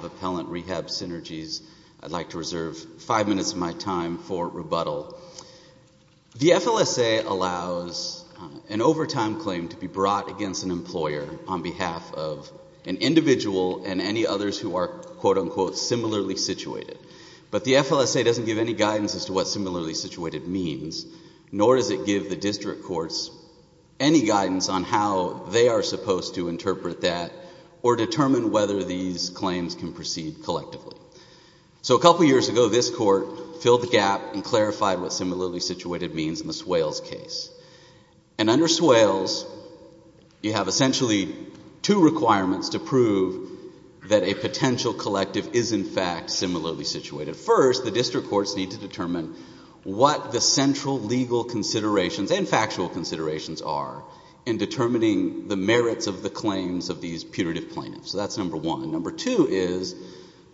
Rehab Synergies, I'd like to reserve five minutes of my time for rebuttal. The FLSA allows an overtime claim to be brought against an employer on behalf of an individual and any others who are, quote unquote, similarly situated. But the FLSA doesn't give any guidance as to what similarly situated means, nor does it give the district courts any guidance on how they are supposed to interpret that or determine whether these claims can proceed collectively. So a couple of years ago, this court filled the gap and clarified what similarly situated means in the Swales case. And under Swales, you have essentially two requirements to prove that a potential collective is, in fact, similarly situated. First, the district courts need to determine what the central legal considerations and factual considerations are in determining the merits of the claims of these putative plaintiffs. So that's number one. Number two is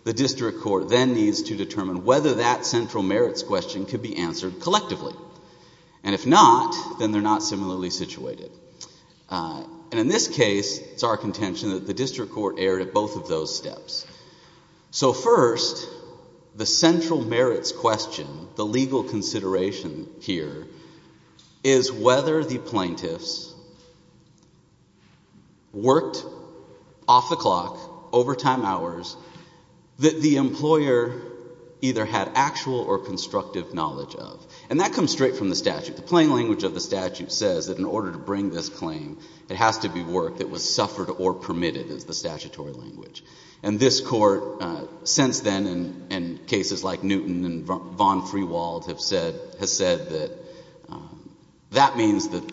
the district court then needs to determine whether that central merits question could be answered collectively. And if not, then they're not similarly situated. And in this case, it's our contention that the district court erred at both of those questions. The legal consideration here is whether the plaintiffs worked off the clock, overtime hours, that the employer either had actual or constructive knowledge of. And that comes straight from the statute. The plain language of the statute says that in order to bring this claim, it has to be work that was suffered or permitted is the statutory language. And this court, since then, in cases like Newton and von Friewald, has said that that means that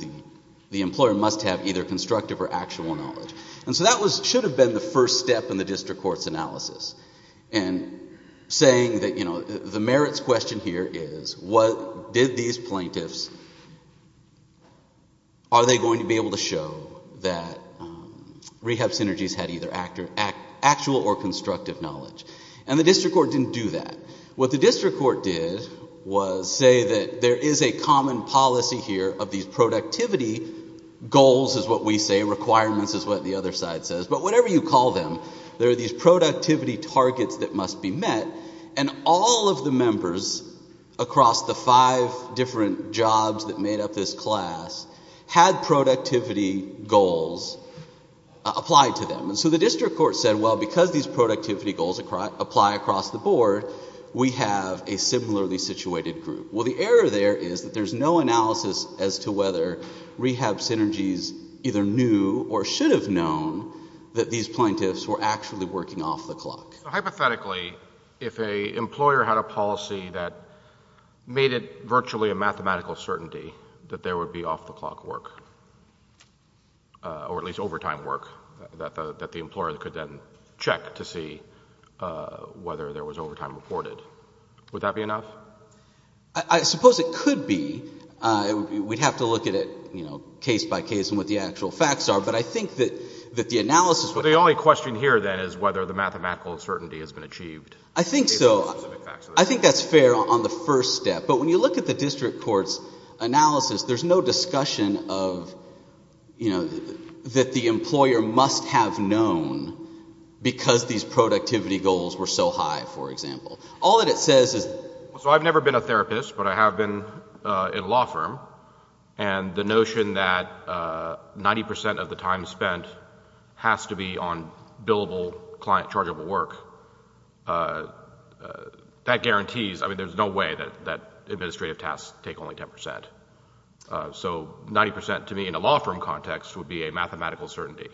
the employer must have either constructive or actual knowledge. And so that should have been the first step in the district court's analysis. And saying that the merits question here is, did these plaintiffs, are they going to be able to show that rehab synergies had either actual or constructive knowledge? And the district court didn't do that. What the district court did was say that there is a common policy here of these productivity goals is what we say, requirements is what the other side says. But whatever you call them, there are these productivity targets that must be met. And all of the members across the five different jobs that made up this class had productivity goals applied to them. And so the district court said, well, because these productivity goals apply across the board, we have a similarly situated group. Well, the error there is that there's no analysis as to whether rehab synergies either knew or should have known that these plaintiffs were actually working off the clock. So hypothetically, if an employer had a policy that made it virtually a mathematical certainty that there would be off-the-clock work, or at least overtime work, that the employer could then check to see whether there was overtime reported, would that be enough? I suppose it could be. We'd have to look at it, you know, case by case and what the actual facts are. But I think that the analysis would have to be... But the only question here, then, is whether the mathematical certainty has been achieved based on those specific facts. I think so. I think that's fair on the first step. But when you look at the district court's analysis, there's no discussion of, you know, that the employer must have known because these productivity goals were so high, for example. All that it says is... So I've never been a therapist, but I have been in a law firm. And the notion that 90% of the time spent has to be on billable, client-chargeable work, that guarantees... I mean, there's no way that administrative tasks take only 10%. So 90%, to me, in a law firm context, would be a mathematical certainty.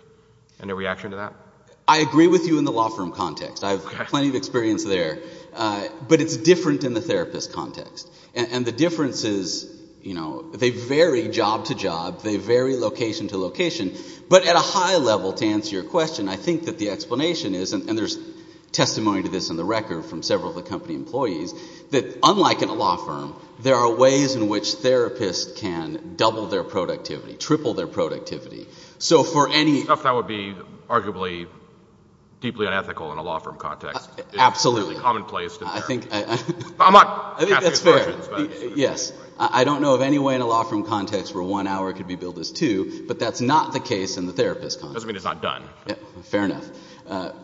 Any reaction to that? I agree with you in the law firm context. I have plenty of experience there. But it's different in the therapist context. And the difference is, you know, they vary job to job, they vary location to location. But at a high level, to answer your question, I think that the explanation is, and there's testimony to this in the record from several of the company employees, that unlike in a law firm, there are ways in which therapists can double their productivity, triple their productivity. So for any... Stuff that would be arguably deeply unethical in a law firm context. Absolutely. It's really commonplace to... I think that's fair. Yes. I don't know of any way in a law firm context where one hour could be billed as two, but that's not the case in the therapist context. Doesn't mean it's not done. Fair enough.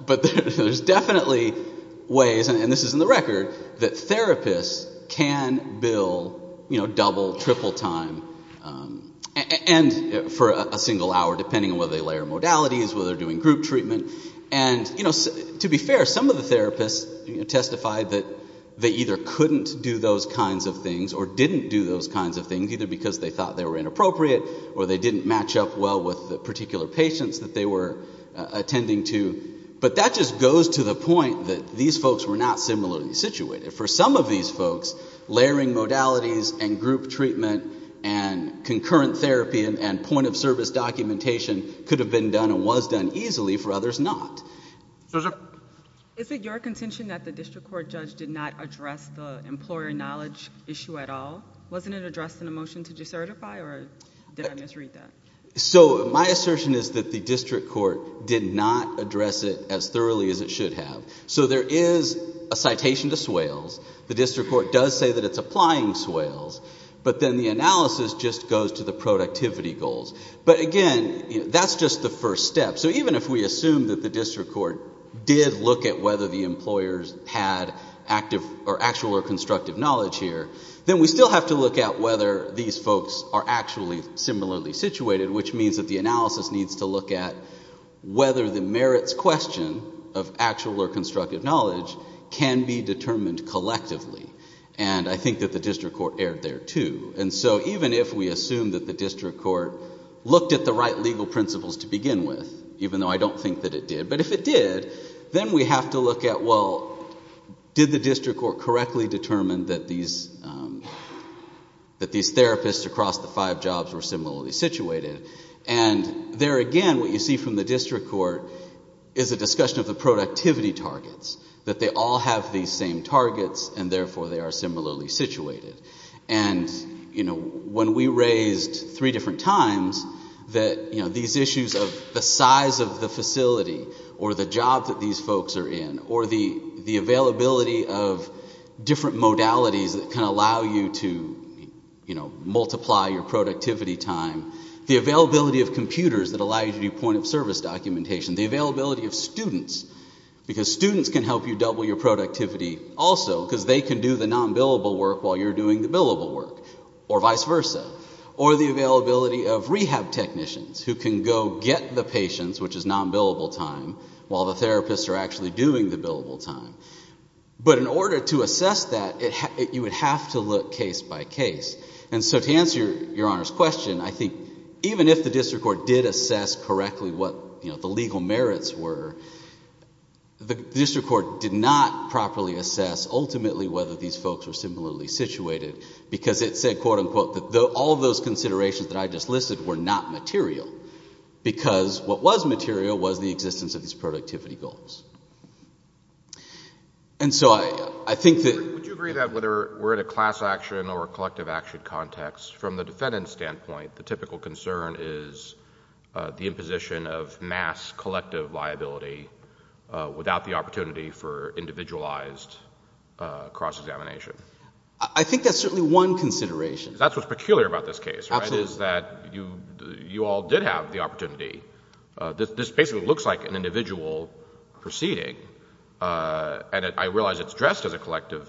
But there's definitely ways, and this is in the record, that therapists can bill, you know, double, triple time. And for a single hour, depending on whether they layer modalities, whether they're doing group treatment. And, you know, to be fair, some of the therapists testified that they either couldn't do those kinds of things or didn't do those kinds of things, either because they thought they were inappropriate or they didn't match up well with the particular patients that they were attending to. But that just goes to the point that these folks were not similarly situated. For some of these folks, layering modalities and group treatment and concurrent therapy and point of service documentation could have been done and was done easily. For others, not. Is it your contention that the district court judge did not address the employer knowledge issue at all? Wasn't it addressed in the motion to decertify, or did I misread that? So my assertion is that the district court did not address it as thoroughly as it should have. So there is a citation to swales. The district court does say that it's applying swales. But then the analysis just goes to the productivity goals. But again, that's just the first step. So even if we assume that the district court did look at whether the employers had actual or constructive knowledge here, then we still have to look at whether these folks are actually similarly situated, which means that the analysis needs to look at whether the merits question of actual or constructive knowledge can be determined collectively. And I think that the district court erred there, too. And so even if we assume that the district court looked at the right legal principles to begin with, even though I don't think that it did, but if it did, then we have to look at, well, did the district court correctly determine that these therapists across the five jobs were similarly situated? And there again, what you see from the district court is a discussion of the productivity targets, that they all have these same targets, and therefore they are similarly situated. And when we raised three different times that these issues of the size of the facility, or the job that these folks are in, or the availability of different modalities that can allow you to multiply your productivity time, the availability of computers that allow you to do point of service documentation, the availability of students, because students can help you double your productivity also, because they can do the non-billable work while you're doing the billable work, or vice versa. Or the availability of rehab technicians who can go get the patients, which is non-billable time, while the therapists are actually doing the billable time. But in order to assess that, you would have to look case by case. And so to answer Your Honor's question, I think even if the district court did assess correctly what the legal merits were, the district court did not properly assess ultimately whether these folks were similarly situated, because it said, quote unquote, that all those considerations that I just listed were not material, because what was material was the existence of these productivity goals. And so I think that... Would you agree that whether we're at a class action or a collective action context, from the defendant's standpoint, the typical concern is the imposition of mass collective liability without the opportunity for individualized cross-examination? I think that's certainly one consideration. That's what's peculiar about this case, right, is that you all did have the opportunity. This basically looks like an individual proceeding, and I realize it's dressed as a collective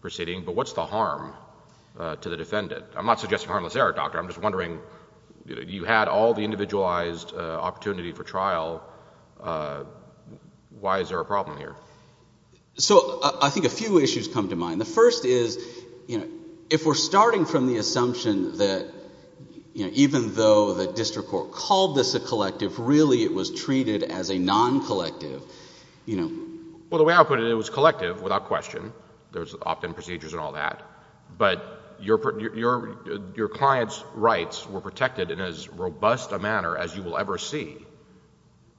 proceeding, but what's the harm to the defendant? I'm not suggesting harmless error, Doctor. I'm just wondering, you had all the individualized opportunity for trial. Why is there a problem here? So I think a few issues come to mind. The first is, if we're starting from the assumption that even though the district court called this a collective, really it was treated as a non-collective, you know... Well, the way I put it, it was collective without question. There was opt-in procedures and all that, but your client's rights were protected in as robust a manner as you will ever see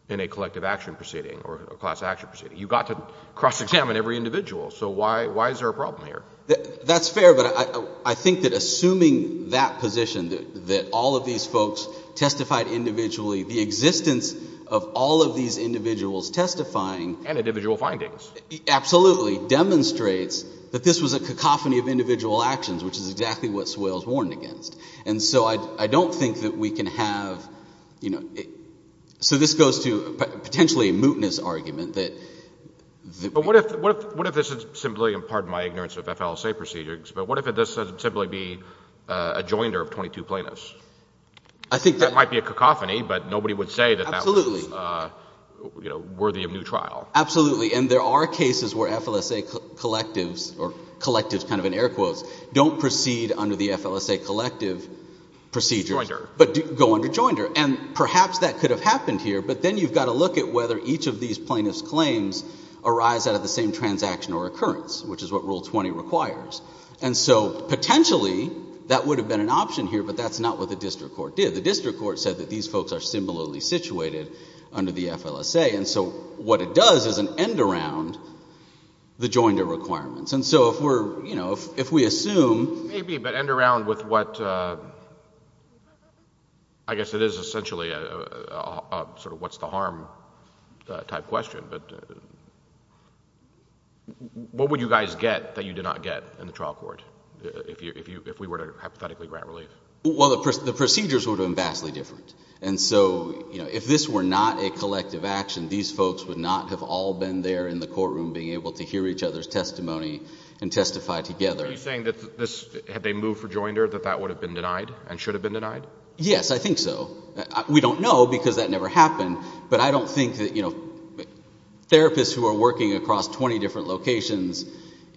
in a collective action proceeding or a class action proceeding. You got to cross-examine every individual, so why is there a problem here? That's fair, but I think that assuming that position, that all of these folks testified individually, the existence of all of these individuals testifying... And individual findings. Absolutely, demonstrates that this was a cacophony of individual actions, which is exactly what Soyle is warned against. And so I don't think that we can have, you know... So this goes to potentially a mootness argument that... But what if this is simply, and pardon my ignorance of FLSA procedures, but what if this is simply a joinder of 22 plaintiffs? I think that might be a cacophony, but nobody would say that that was... Absolutely. ...you know, worthy of new trial. Absolutely. And there are cases where FLSA collectives, or collectives, kind of in air quotes, don't proceed under the FLSA collective procedure, but go under joinder. And perhaps that could have happened here, but then you've got to look at whether each of these plaintiffs' claims arise out of the same transaction or occurrence, which is what Rule 20 requires. And so potentially, that would have been an option here, but that's not what the district court did. The district court said that these folks are similarly situated under the FLSA. And so what it does is an end around the joinder requirements. And so if we're, you know, if we assume... Maybe, but end around with what... I guess it is essentially a sort of what's the harm type question, but what would you guys get that you did not get in the trial court if we were to hypothetically grant relief? Well, the procedures would have been vastly different. And so, you know, if this were not a collective action, these folks would not have all been there in the courtroom being able to hear each other's testimony and testify together. Are you saying that this, had they moved for joinder, that that would have been denied and should have been denied? Yes, I think so. We don't know because that never happened, but I don't think that, you know, therapists who are working across 20 different locations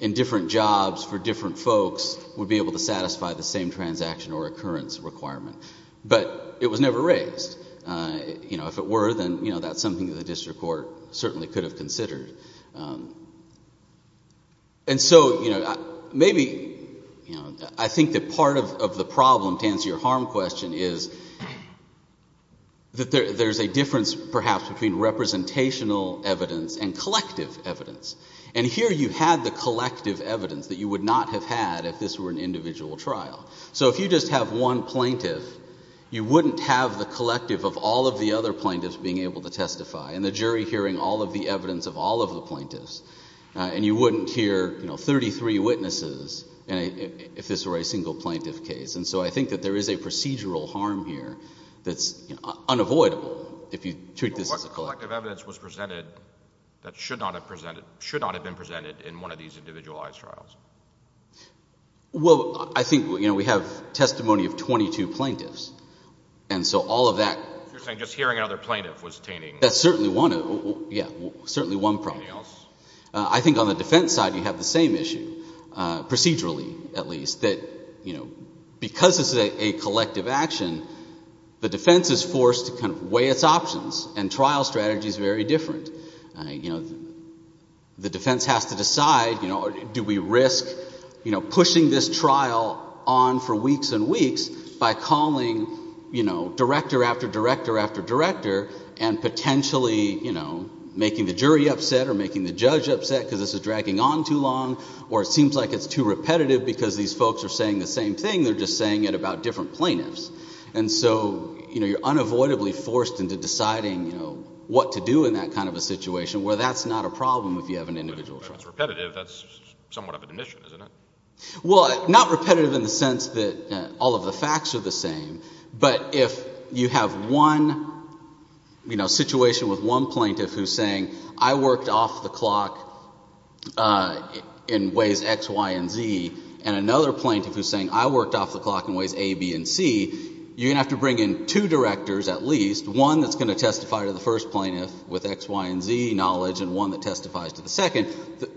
in different jobs for different folks would be able to satisfy the same transaction or occurrence requirement. But it was never raised. You know, if it were, then, you know, that's something that the district court certainly could have considered. And so, you know, maybe, you know, I think that part of the problem to answer your harm question is that there's a difference perhaps between representational evidence and collective evidence. And here you had the collective evidence that you would not have had if this were an individual trial. So if you just have one plaintiff, you wouldn't have the collective of all of the other plaintiffs being able to testify and the jury hearing all of the evidence of all of the plaintiffs. And you wouldn't hear, you know, 33 witnesses if this were a single plaintiff case. And so I think that there is a procedural harm here that's unavoidable if you treat this as a collective. But what collective evidence was presented that should not have been presented in one of these individualized trials? Well, I think, you know, we have testimony of 22 plaintiffs. And so all of that... You're saying just hearing another plaintiff was attaining... That's certainly one, yeah, certainly one problem. Anything else? I think on the defense side, you have the same issue, procedurally at least, that, you know, because it's a collective action, the defense is forced to kind of weigh its options and trial strategy is very different. You know, the defense has to decide, you know, do we risk, you know, pushing this trial on for weeks and weeks by calling, you know, director after director after director and potentially, you know, making the jury upset or making the judge upset because this is dragging on too long or it seems like it's too repetitive because these folks are saying the same thing, they're just saying it about different plaintiffs. And so, you know, you're unavoidably forced into deciding, you know, what to do in that kind of a situation where that's not a problem if you have an individual trial. If it's repetitive, that's somewhat of an admission, isn't it? Well, not repetitive in the sense that all of the facts are the same, but if you have one, you know, situation with one plaintiff who's saying, I worked off the clock in ways X, Y, and Z, and another plaintiff who's saying, I worked off the clock in ways A, B, and C, you're going to have to bring in two directors at least, one that's going to testify to the case.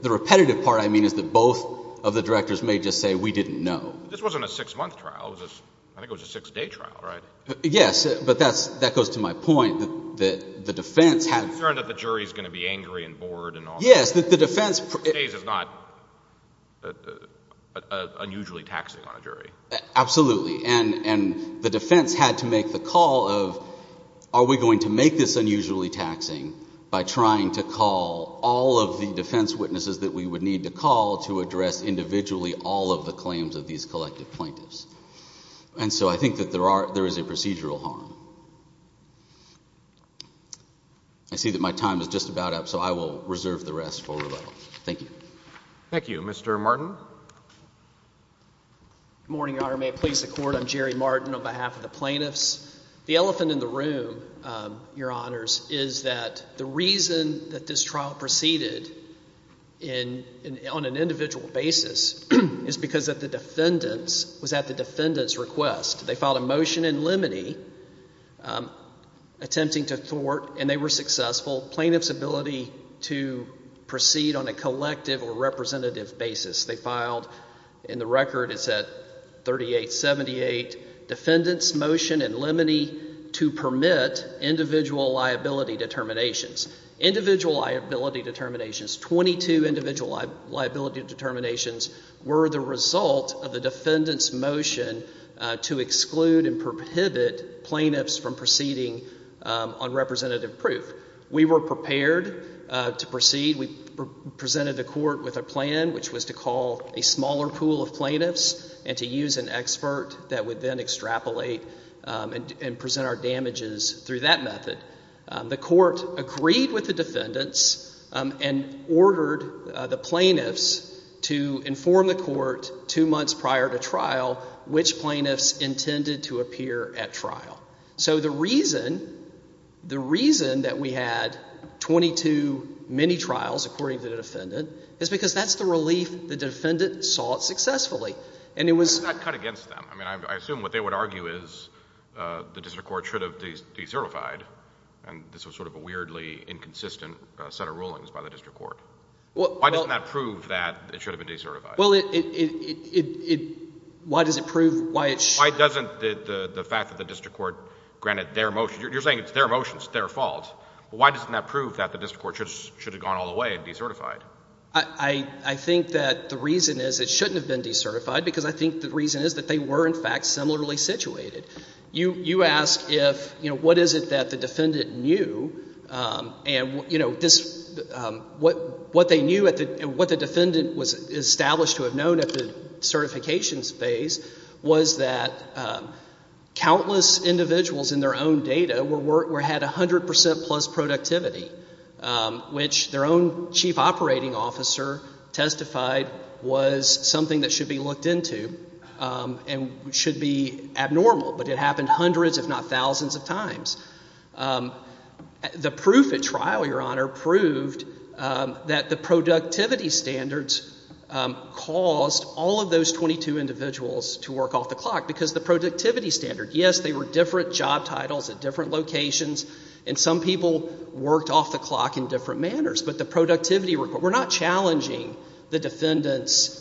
The repetitive part, I mean, is that both of the directors may just say, we didn't know. This wasn't a six-month trial. I think it was a six-day trial, right? Yes, but that goes to my point that the defense had— You're concerned that the jury's going to be angry and bored and all that. Yes, that the defense— Six days is not unusually taxing on a jury. Absolutely. And the defense had to make the call of, are we going to make this unusually taxing by trying to call all of the defense witnesses that we would need to call to address individually all of the claims of these collective plaintiffs? And so I think that there is a procedural harm. I see that my time is just about up, so I will reserve the rest for rebuttal. Thank you. Thank you. Mr. Martin? Good morning, Your Honor. May it please the Court, I'm Jerry Martin on behalf of the plaintiffs. The elephant in the room, Your Honors, is that the reason that this trial proceeded on an individual basis is because of the defendants, was at the defendants' request. They filed a motion in limine, attempting to thwart, and they were successful, plaintiffs' ability to proceed on a collective or representative basis. They filed, and the record is at 3878, defendants' motion in limine to permit individual liability determinations. Individual liability determinations, 22 individual liability determinations, were the result of the defendants' motion to exclude and prohibit plaintiffs from proceeding on representative proof. We were prepared to proceed. We presented the Court with a plan, which was to call a smaller pool of plaintiffs and to use an expert that would then extrapolate and present our damages through that method. The Court agreed with the defendants and ordered the plaintiffs to inform the Court two months prior to trial which plaintiffs intended to appear at trial. So the reason, the reason that we had 22 mini-trials, according to the defendant, is because that's the relief the defendant sought successfully. And it was... Why was that cut against them? I mean, I assume what they would argue is the district court should have decertified, and this was sort of a weirdly inconsistent set of rulings by the district court. Why doesn't that prove that it should have been decertified? Well, it, it, it, it, it, why does it prove why it should... Why doesn't the fact that the district court granted their motion, you're saying it's their motion, it's their fault, but why doesn't that prove that the district court should have gone all the way and decertified? I, I, I think that the reason is it shouldn't have been decertified because I think the reason is that they were in fact similarly situated. You, you ask if, you know, what is it that the defendant knew, and, you know, this, what, what they knew at the, what the defendant was established to have known at the certification phase was that countless individuals in their own data were, were, had 100 percent plus productivity, which their own chief operating officer testified was something that should be looked into and should be abnormal, but it happened hundreds if not thousands of times. The proof at trial, Your Honor, proved that the productivity standards caused all of those 22 individuals to work off the clock because the productivity standard, yes, they were different job titles at different locations, and some people worked off the clock in different manners, but the productivity, we're not challenging the defendant's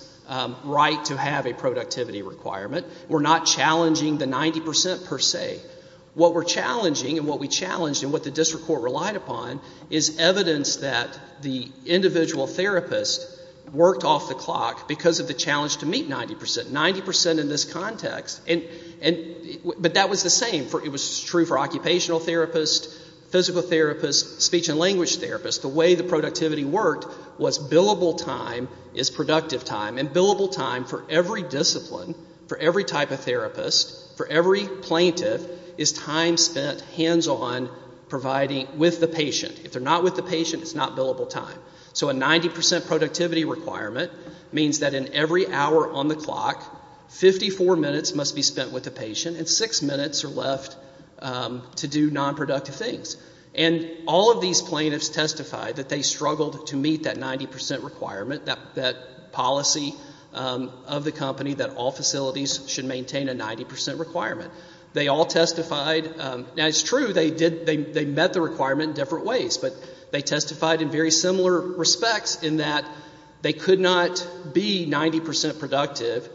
right to have a productivity requirement. We're not challenging the 90 percent per se. What we're challenging and what we challenged and what the district court relied upon is evidence that the individual therapist worked off the clock because of the challenge to meet 90 percent, 90 percent in this context, and, and, but that was the same for, it was true for occupational therapists, physical therapists, speech and language therapists. The way the productivity worked was billable time is productive time, and billable time for every discipline, for every type of therapist, for every plaintiff is time spent hands-on providing with the patient. If they're not with the patient, it's not billable time. So a 90 percent productivity requirement means that in every hour on the clock, 54 minutes must be spent with the patient and six minutes are left to do nonproductive things. And all of these plaintiffs testified that they struggled to meet that 90 percent requirement, that policy of the company that all facilities should maintain a 90 percent requirement. They all testified, now it's true, they did, they met the requirement in different ways, but they testified in very similar respects in that they could not be 90 percent productive,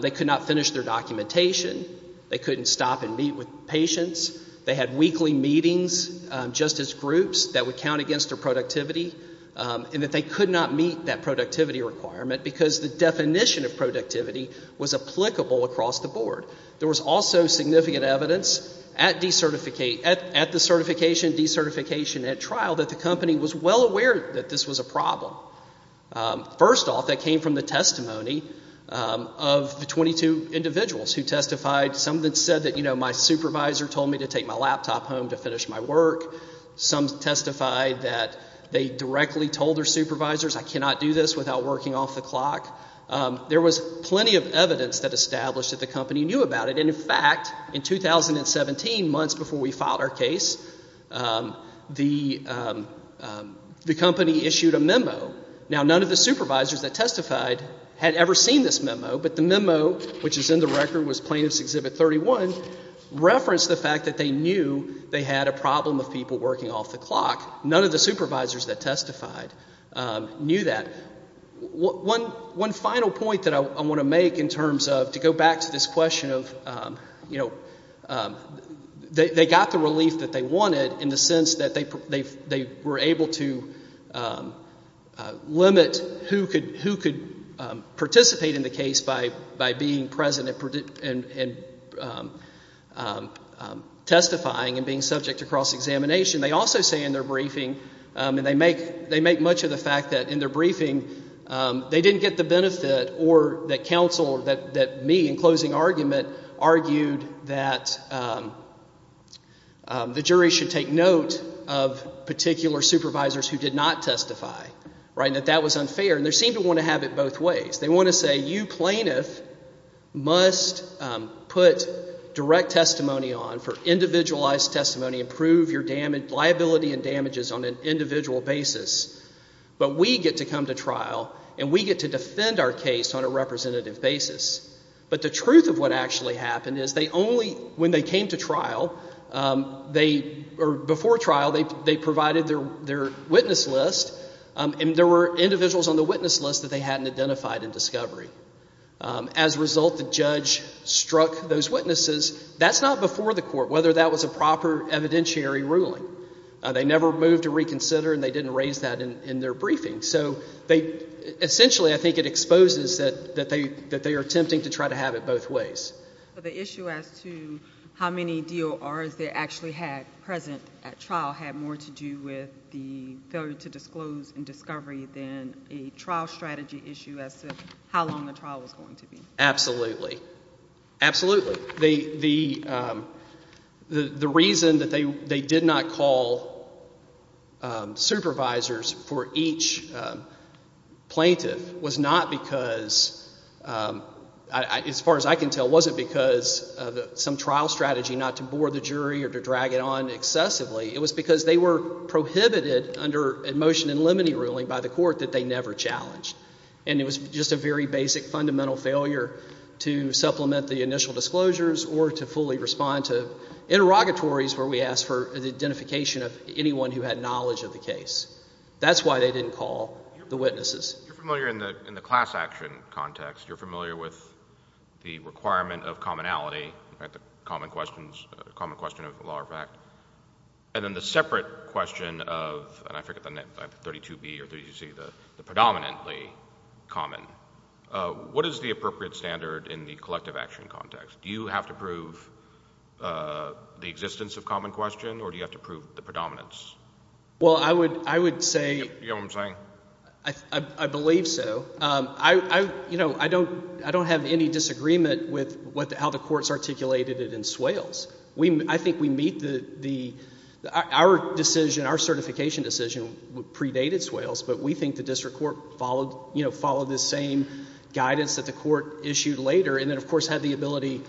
they could not finish their documentation, they couldn't stop and meet with patients, they had weekly meetings just as groups that would count against their productivity, and that they could not meet that productivity requirement because the definition of productivity was applicable across the board. There was also significant evidence at the certification, decertification, and trial that the company was well aware that this was a problem. First off, that came from the testimony of the 22 individuals who testified. Some said that, you know, my supervisor told me to take my laptop home to finish my work. Some testified that they directly told their supervisors, I cannot do this without working off the clock. There was plenty of evidence that established that the company knew about it, and in fact, in 2017, months before we filed our case, the company issued a memo. Now, none of the supervisors that testified had ever seen this memo, but the memo, which is in the record, was Plaintiff's Exhibit 31, referenced the fact that they knew they had a problem of people working off the clock. None of the supervisors that testified knew that. One final point that I want to make in terms of, to go back to this question of, you know, they got the relief that they wanted in the sense that they were able to limit who could participate in the case by being present and testifying and being subject to cross-examination. They also say in their briefing, and they make much of the fact that in their briefing, they didn't get the benefit or that counsel, that me in closing argument, argued that the jury should take note of particular supervisors who did not testify, right, and that that was unfair, and they seem to want to have it both ways. They want to say, you plaintiff must put direct testimony on for individualized testimony, improve your liability and damages on an individual basis, but we get to come to trial and we get to defend our case on a representative basis. But the truth of what actually happened is they only, when they came to trial, or before trial, they provided their witness list, and there were individuals on the witness list that they hadn't identified in discovery. As a result, the judge struck those witnesses. That's not before the court, whether that was a proper evidentiary ruling. They never moved to reconsider and they didn't raise that in their briefing. So essentially I think it exposes that they are attempting to try to have it both ways. The issue as to how many DORs they actually had present at trial had more to do with the failure to disclose in discovery than a trial strategy issue as to how long the trial was going to be. Absolutely. Absolutely. The reason that they did not call supervisors for each plaintiff was not because, as far as I can tell, it wasn't because of some trial strategy not to bore the jury or to drag it on excessively. It was because they were prohibited under a motion in limine ruling by the court that they never challenged. And it was just a very basic fundamental failure to supplement the initial disclosures or to fully respond to interrogatories where we asked for the identification of anyone who had knowledge of the case. That's why they didn't call the witnesses. You're familiar in the class action context. You're familiar with the requirement of commonality, the common question of law or fact. And then the separate question of, and I forget the net, 32B or 32C, the predominantly common. What is the appropriate standard in the collective action context? Do you have to prove the existence of common question or do you have to prove the predominance? Well, I would say— You know what I'm saying? I believe so. I don't have any disagreement with how the courts articulated it in Swales. I think we meet the—our decision, our certification decision predated Swales, but we think the district court followed the same guidance that the court issued later and then, of course, had the ability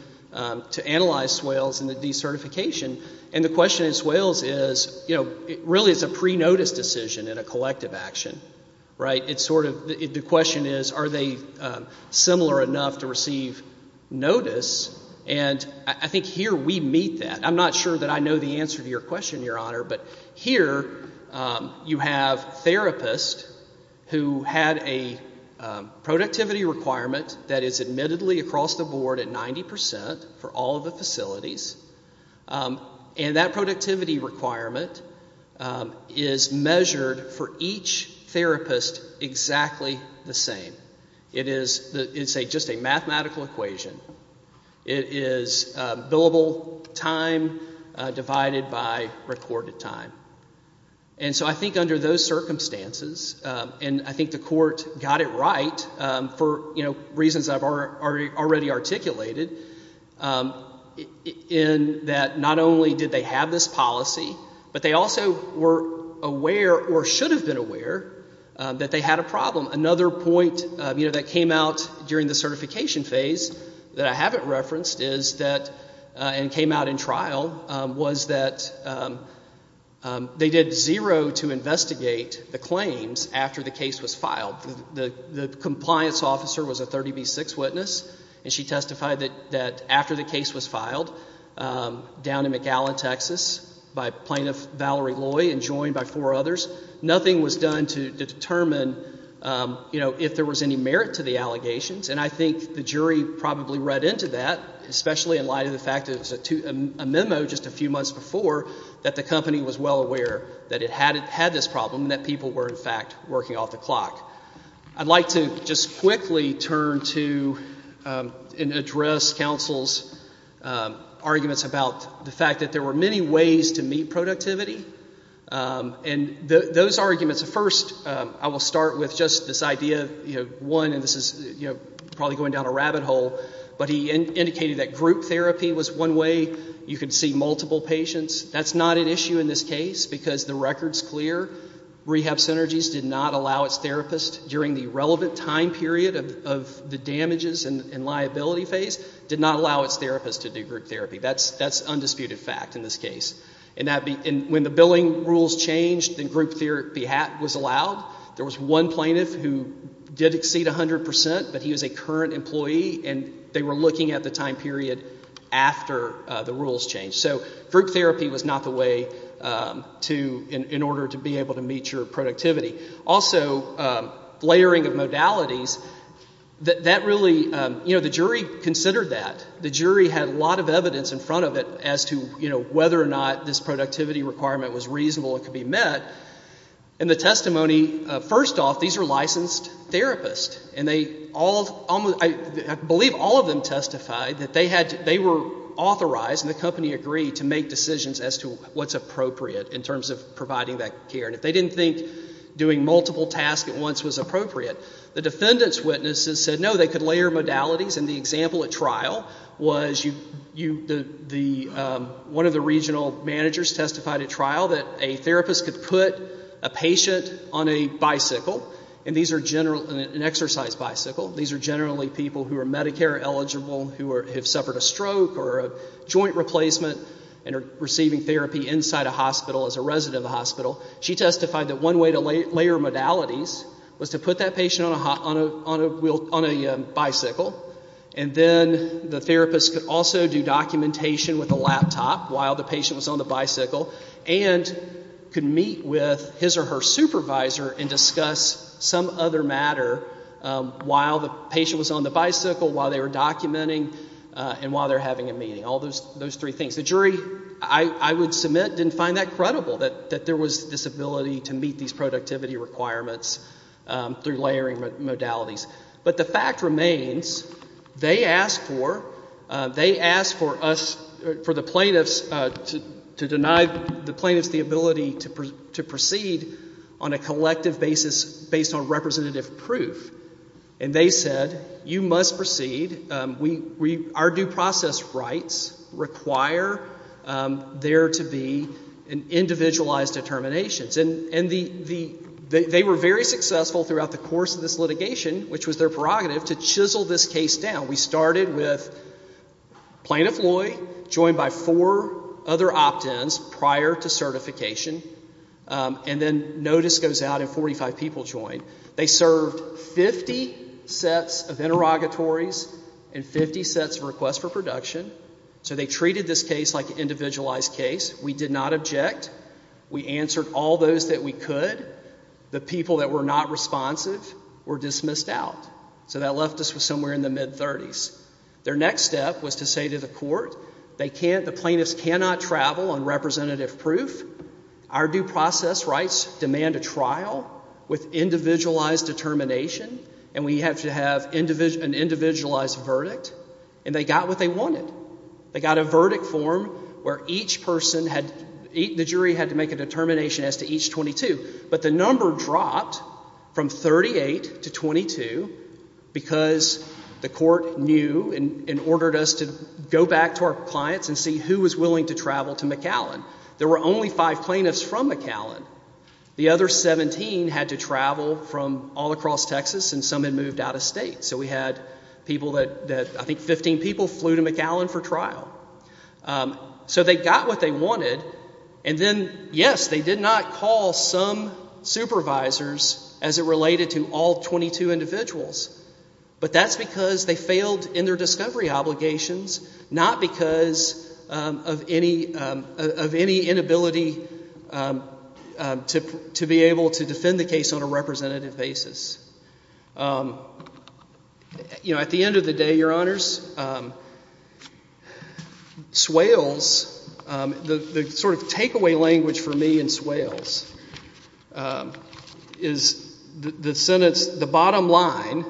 to analyze Swales and the decertification. And the question in Swales is, you know, really it's a pre-notice decision in a collective action. The question is, are they similar enough to receive notice? And I think here we meet that. I'm not sure that I know the answer to your question, Your Honor, but here you have therapists who had a productivity requirement that is admittedly across the board at 90% for all of the facilities, and that productivity requirement is measured for each therapist exactly the same. It's just a mathematical equation. It is billable time divided by recorded time. And so I think under those circumstances, and I think the court got it right for reasons I've already articulated, in that not only did they have this policy, but they also were aware or should have been aware that they had a problem. Another point, you know, that came out during the certification phase that I haven't referenced is that, and came out in trial, was that they did zero to investigate the claims after the case was filed. The compliance officer was a 30B6 witness, and she testified that after the case was filed down in McAllen, Texas, by Plaintiff Valerie Loy and joined by four others, nothing was done to determine if there was any merit to the allegations, and I think the jury probably read into that, especially in light of the fact that it was a memo just a few months before that the company was well aware that it had this problem and that people were, in fact, working off the clock. I'd like to just quickly turn to and address counsel's arguments about the fact that there were many ways to meet productivity, and those arguments, first, I will start with just this idea, one, and this is probably going down a rabbit hole, but he indicated that group therapy was one way you could see multiple patients. That's not an issue in this case because the record's clear. Rehab Synergies did not allow its therapist, during the relevant time period of the damages and liability phase, did not allow its therapist to do group therapy. That's undisputed fact in this case. When the billing rules changed and group therapy was allowed, there was one plaintiff who did exceed 100 percent, but he was a current employee, and they were looking at the time period after the rules changed. So group therapy was not the way in order to be able to meet your productivity. Also, layering of modalities, the jury considered that. The jury had a lot of evidence in front of it as to whether or not this productivity requirement was reasonable and could be met. In the testimony, first off, these are licensed therapists, and I believe all of them testified that they were authorized, and the company agreed to make decisions as to what's appropriate in terms of providing that care, and if they didn't think doing multiple tasks at once was appropriate, the defendant's witnesses said no, they could layer modalities, and the example at trial was one of the regional managers testified at trial that a therapist could put a patient on a bicycle, an exercise bicycle. These are generally people who are Medicare eligible, who have suffered a stroke or a joint replacement and are receiving therapy inside a hospital as a resident of the hospital. She testified that one way to layer modalities was to put that patient on a bicycle, and then the therapist could also do documentation with a laptop while the patient was on the bicycle and could meet with his or her supervisor and discuss some other matter while the patient was on the bicycle, while they were documenting, and while they were having a meeting, all those three things. The jury, I would submit, didn't find that credible, that there was this ability to meet these productivity requirements through layering modalities. But the fact remains, they asked for us, for the plaintiffs, to deny the plaintiffs the ability to proceed on a collective basis based on representative proof, and they said, You must proceed. Our due process rights require there to be an individualized determination. And they were very successful throughout the course of this litigation, which was their prerogative, to chisel this case down. We started with Plaintiff Loy joined by four other opt-ins prior to certification, and then notice goes out and 45 people join. They served 50 sets of interrogatories and 50 sets of requests for production. So they treated this case like an individualized case. We did not object. We answered all those that we could. The people that were not responsive were dismissed out. So that left us with somewhere in the mid-30s. Their next step was to say to the court, The plaintiffs cannot travel on representative proof. Our due process rights demand a trial with individualized determination, and we have to have an individualized verdict. And they got what they wanted. They got a verdict form where each person had, the jury had to make a determination as to each 22. But the number dropped from 38 to 22 because the court knew and ordered us to go back to our clients and see who was willing to travel to McAllen. There were only five plaintiffs from McAllen. The other 17 had to travel from all across Texas, and some had moved out of state. So we had people that I think 15 people flew to McAllen for trial. So they got what they wanted, and then, yes, they did not call some supervisors as it related to all 22 individuals, but that's because they failed in their discovery obligations, not because of any inability to be able to defend the case on a representative basis. You know, at the end of the day, Your Honors, Swales, the sort of takeaway language for me in Swales is the sentence, the bottom line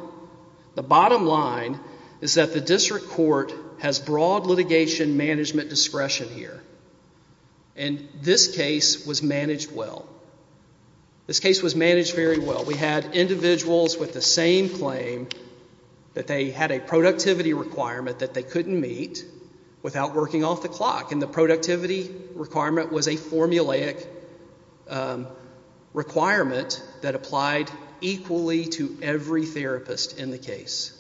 is that the district court has broad litigation management discretion here, and this case was managed well. This case was managed very well. We had individuals with the same claim that they had a productivity requirement that they couldn't meet without working off the clock, and the productivity requirement was a formulaic requirement that applied equally to every therapist in the case,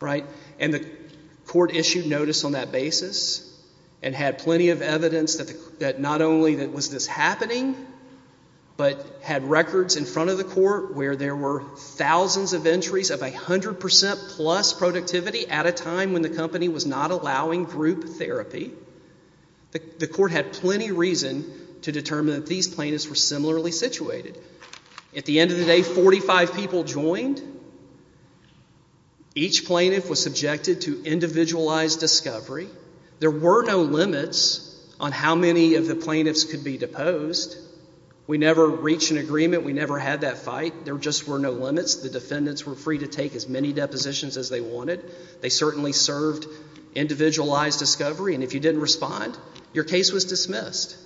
right? And the court issued notice on that basis and had plenty of evidence that not only was this happening, but had records in front of the court where there were thousands of entries of 100% plus productivity at a time when the company was not allowing group therapy. The court had plenty of reason to determine that these plaintiffs were similarly situated. At the end of the day, 45 people joined. Each plaintiff was subjected to individualized discovery. There were no limits on how many of the plaintiffs could be deposed. We never reached an agreement. We never had that fight. There just were no limits. The defendants were free to take as many depositions as they wanted. They certainly served individualized discovery, and if you didn't respond, your case was dismissed.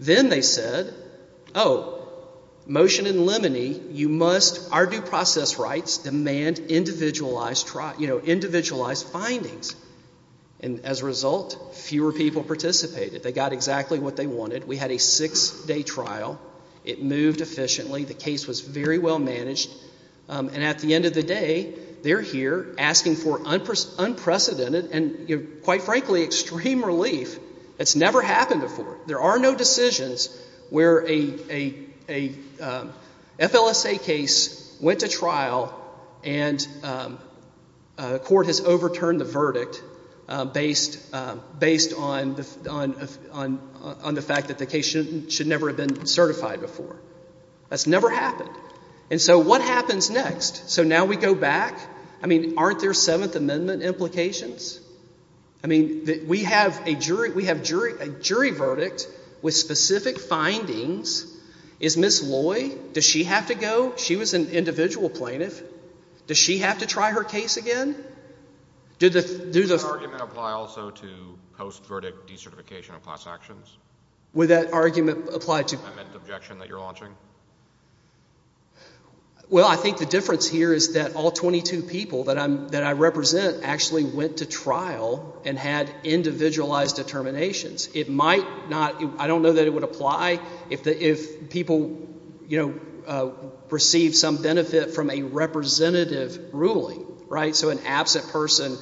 Then they said, oh, motion in limine, you must, our due process rights demand individualized findings. And as a result, fewer people participated. They got exactly what they wanted. We had a six-day trial. It moved efficiently. The case was very well managed. And at the end of the day, they're here asking for unprecedented and, quite frankly, extreme relief. It's never happened before. There are no decisions where a FLSA case went to trial and court has overturned the verdict based on the fact that the case should never have been certified before. That's never happened. And so what happens next? So now we go back. I mean, aren't there Seventh Amendment implications? I mean, we have a jury verdict with specific findings. Is Ms. Loy, does she have to go? She was an individual plaintiff. Does she have to try her case again? Did the argument apply also to post-verdict decertification of class actions? Would that argument apply to the amendment objection that you're launching? Well, I think the difference here is that all 22 people that I represent actually went to trial and had individualized determinations. It might not. I don't know that it would apply if people received some benefit from a representative ruling. So an absent person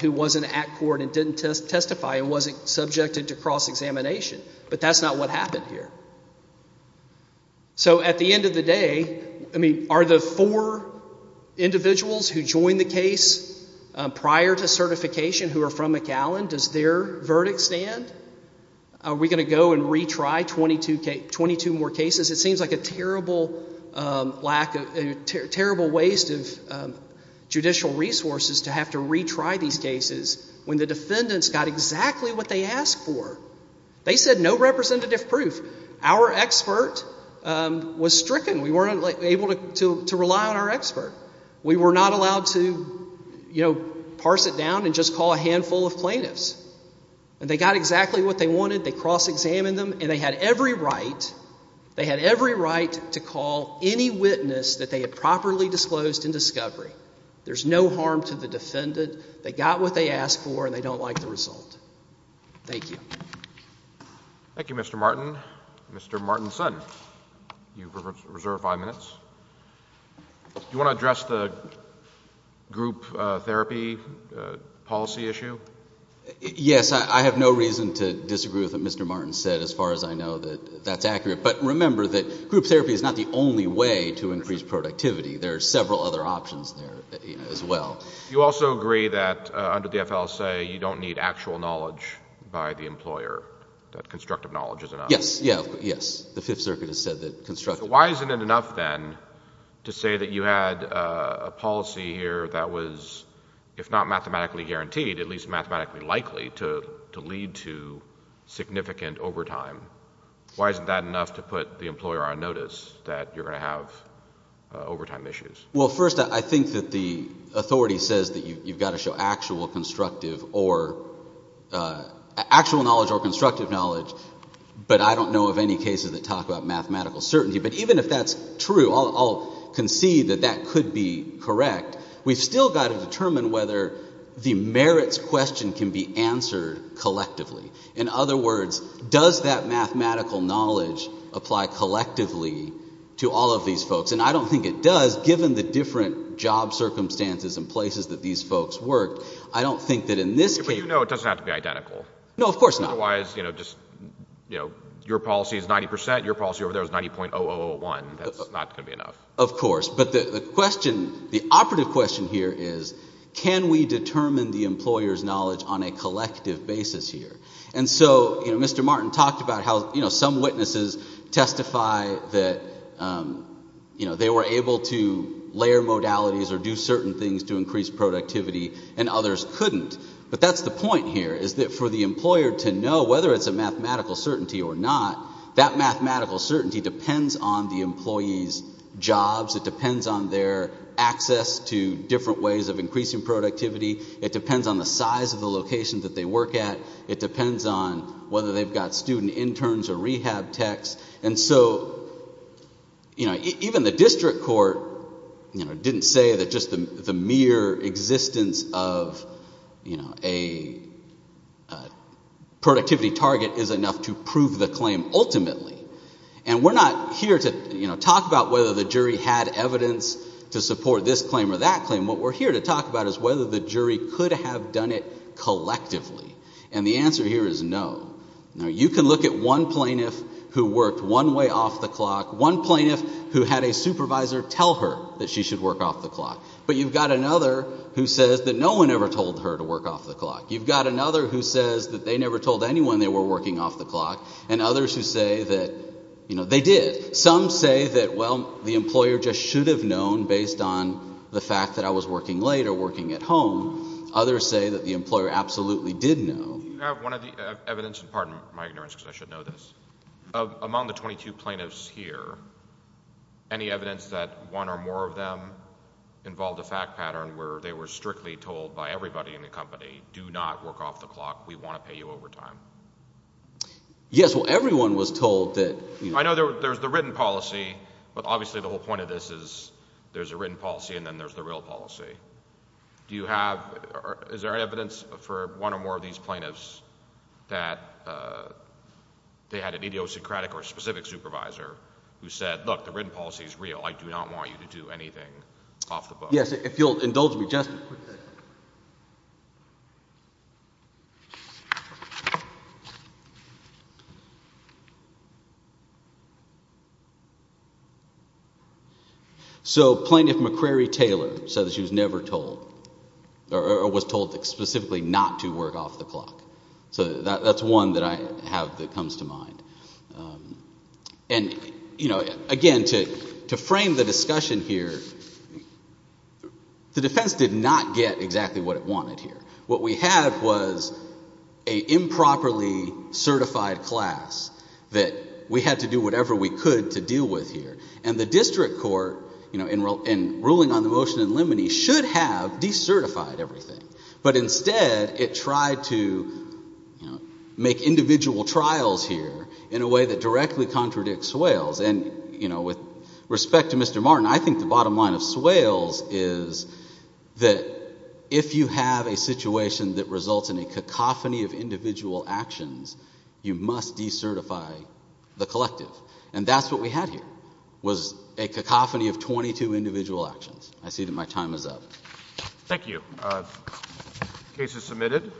who wasn't at court and didn't testify and wasn't subjected to cross-examination. But that's not what happened here. So at the end of the day, I mean, are the four individuals who joined the case prior to certification who are from McAllen, does their verdict stand? Are we going to go and retry 22 more cases? It seems like a terrible waste of judicial resources to have to retry these cases when the defendants got exactly what they asked for. They said no representative proof. Our expert was stricken. We weren't able to rely on our expert. We were not allowed to parse it down and just call a handful of plaintiffs. And they got exactly what they wanted. They cross-examined them, and they had every right to call any witness that they had properly disclosed in discovery. There's no harm to the defendant. They got what they asked for, and they don't like the result. Thank you. Thank you, Mr. Martin. Mr. Martin's son, you reserve five minutes. Do you want to address the group therapy policy issue? Yes. I have no reason to disagree with what Mr. Martin said as far as I know that that's accurate. But remember that group therapy is not the only way to increase productivity. There are several other options there as well. You also agree that under the FLSA you don't need actual knowledge by the employer, that constructive knowledge is enough. Yes, yes. The Fifth Circuit has said that constructive knowledge is enough. Why isn't it enough then to say that you had a policy here that was, if not mathematically guaranteed, at least mathematically likely to lead to significant overtime? Why isn't that enough to put the employer on notice that you're going to have overtime issues? Well, first, I think that the authority says that you've got to show actual constructive or actual knowledge or constructive knowledge, but I don't know of any cases that talk about mathematical certainty. But even if that's true, I'll concede that that could be correct. We've still got to determine whether the merits question can be answered collectively. In other words, does that mathematical knowledge apply collectively to all of these folks? And I don't think it does, given the different job circumstances and places that these folks worked. I don't think that in this case. But you know it doesn't have to be identical. No, of course not. Otherwise, you know, just, you know, your policy is 90 percent. Your policy over there is 90.0001. That's not going to be enough. Of course. But the question, the operative question here is can we determine the employer's knowledge on a collective basis here? And so, you know, Mr. Martin talked about how, you know, some witnesses testify that, you know, they were able to layer modalities or do certain things to increase productivity and others couldn't. But that's the point here is that for the employer to know whether it's a mathematical certainty or not, that mathematical certainty depends on the employee's jobs. It depends on their access to different ways of increasing productivity. It depends on the size of the location that they work at. It depends on whether they've got student interns or rehab techs. And so, you know, even the district court, you know, didn't say that just the mere existence of, you know, a productivity target is enough to prove the claim ultimately. And we're not here to, you know, talk about whether the jury had evidence to support this claim or that claim. What we're here to talk about is whether the jury could have done it collectively. And the answer here is no. Now, you can look at one plaintiff who worked one way off the clock, one plaintiff who had a supervisor tell her that she should work off the clock. But you've got another who says that no one ever told her to work off the clock. You've got another who says that they never told anyone they were working off the clock. And others who say that, you know, they did. Some say that, well, the employer just should have known based on the fact that I was working late or working at home. Others say that the employer absolutely did know. You have one of the evidence—pardon my ignorance because I should know this—among the 22 plaintiffs here, any evidence that one or more of them involved a fact pattern where they were strictly told by everybody in the company, do not work off the clock. We want to pay you overtime. Yes, well, everyone was told that— I know there's the written policy, but obviously the whole point of this is there's a written policy and then there's the real policy. Do you have—is there evidence for one or more of these plaintiffs that they had an idiosyncratic or specific supervisor who said, look, the written policy is real. I do not want you to do anything off the book. Yes, if you'll indulge me just a quick second. So Plaintiff McCrary Taylor said that she was never told or was told specifically not to work off the clock. So that's one that I have that comes to mind. And again, to frame the discussion here, the defense did not get exactly what it wanted here. What we had was an improperly certified class that we had to do whatever we could to deal with here. And the district court, in ruling on the motion in limine, should have decertified everything. But instead it tried to make individual trials here in a way that directly contradicts Swales. And with respect to Mr. Martin, I think the bottom line of Swales is that if you have a situation that results in a cacophony of individual actions, you must decertify the collective. And that's what we had here was a cacophony of 22 individual actions. I see that my time is up. Thank you. Case is submitted.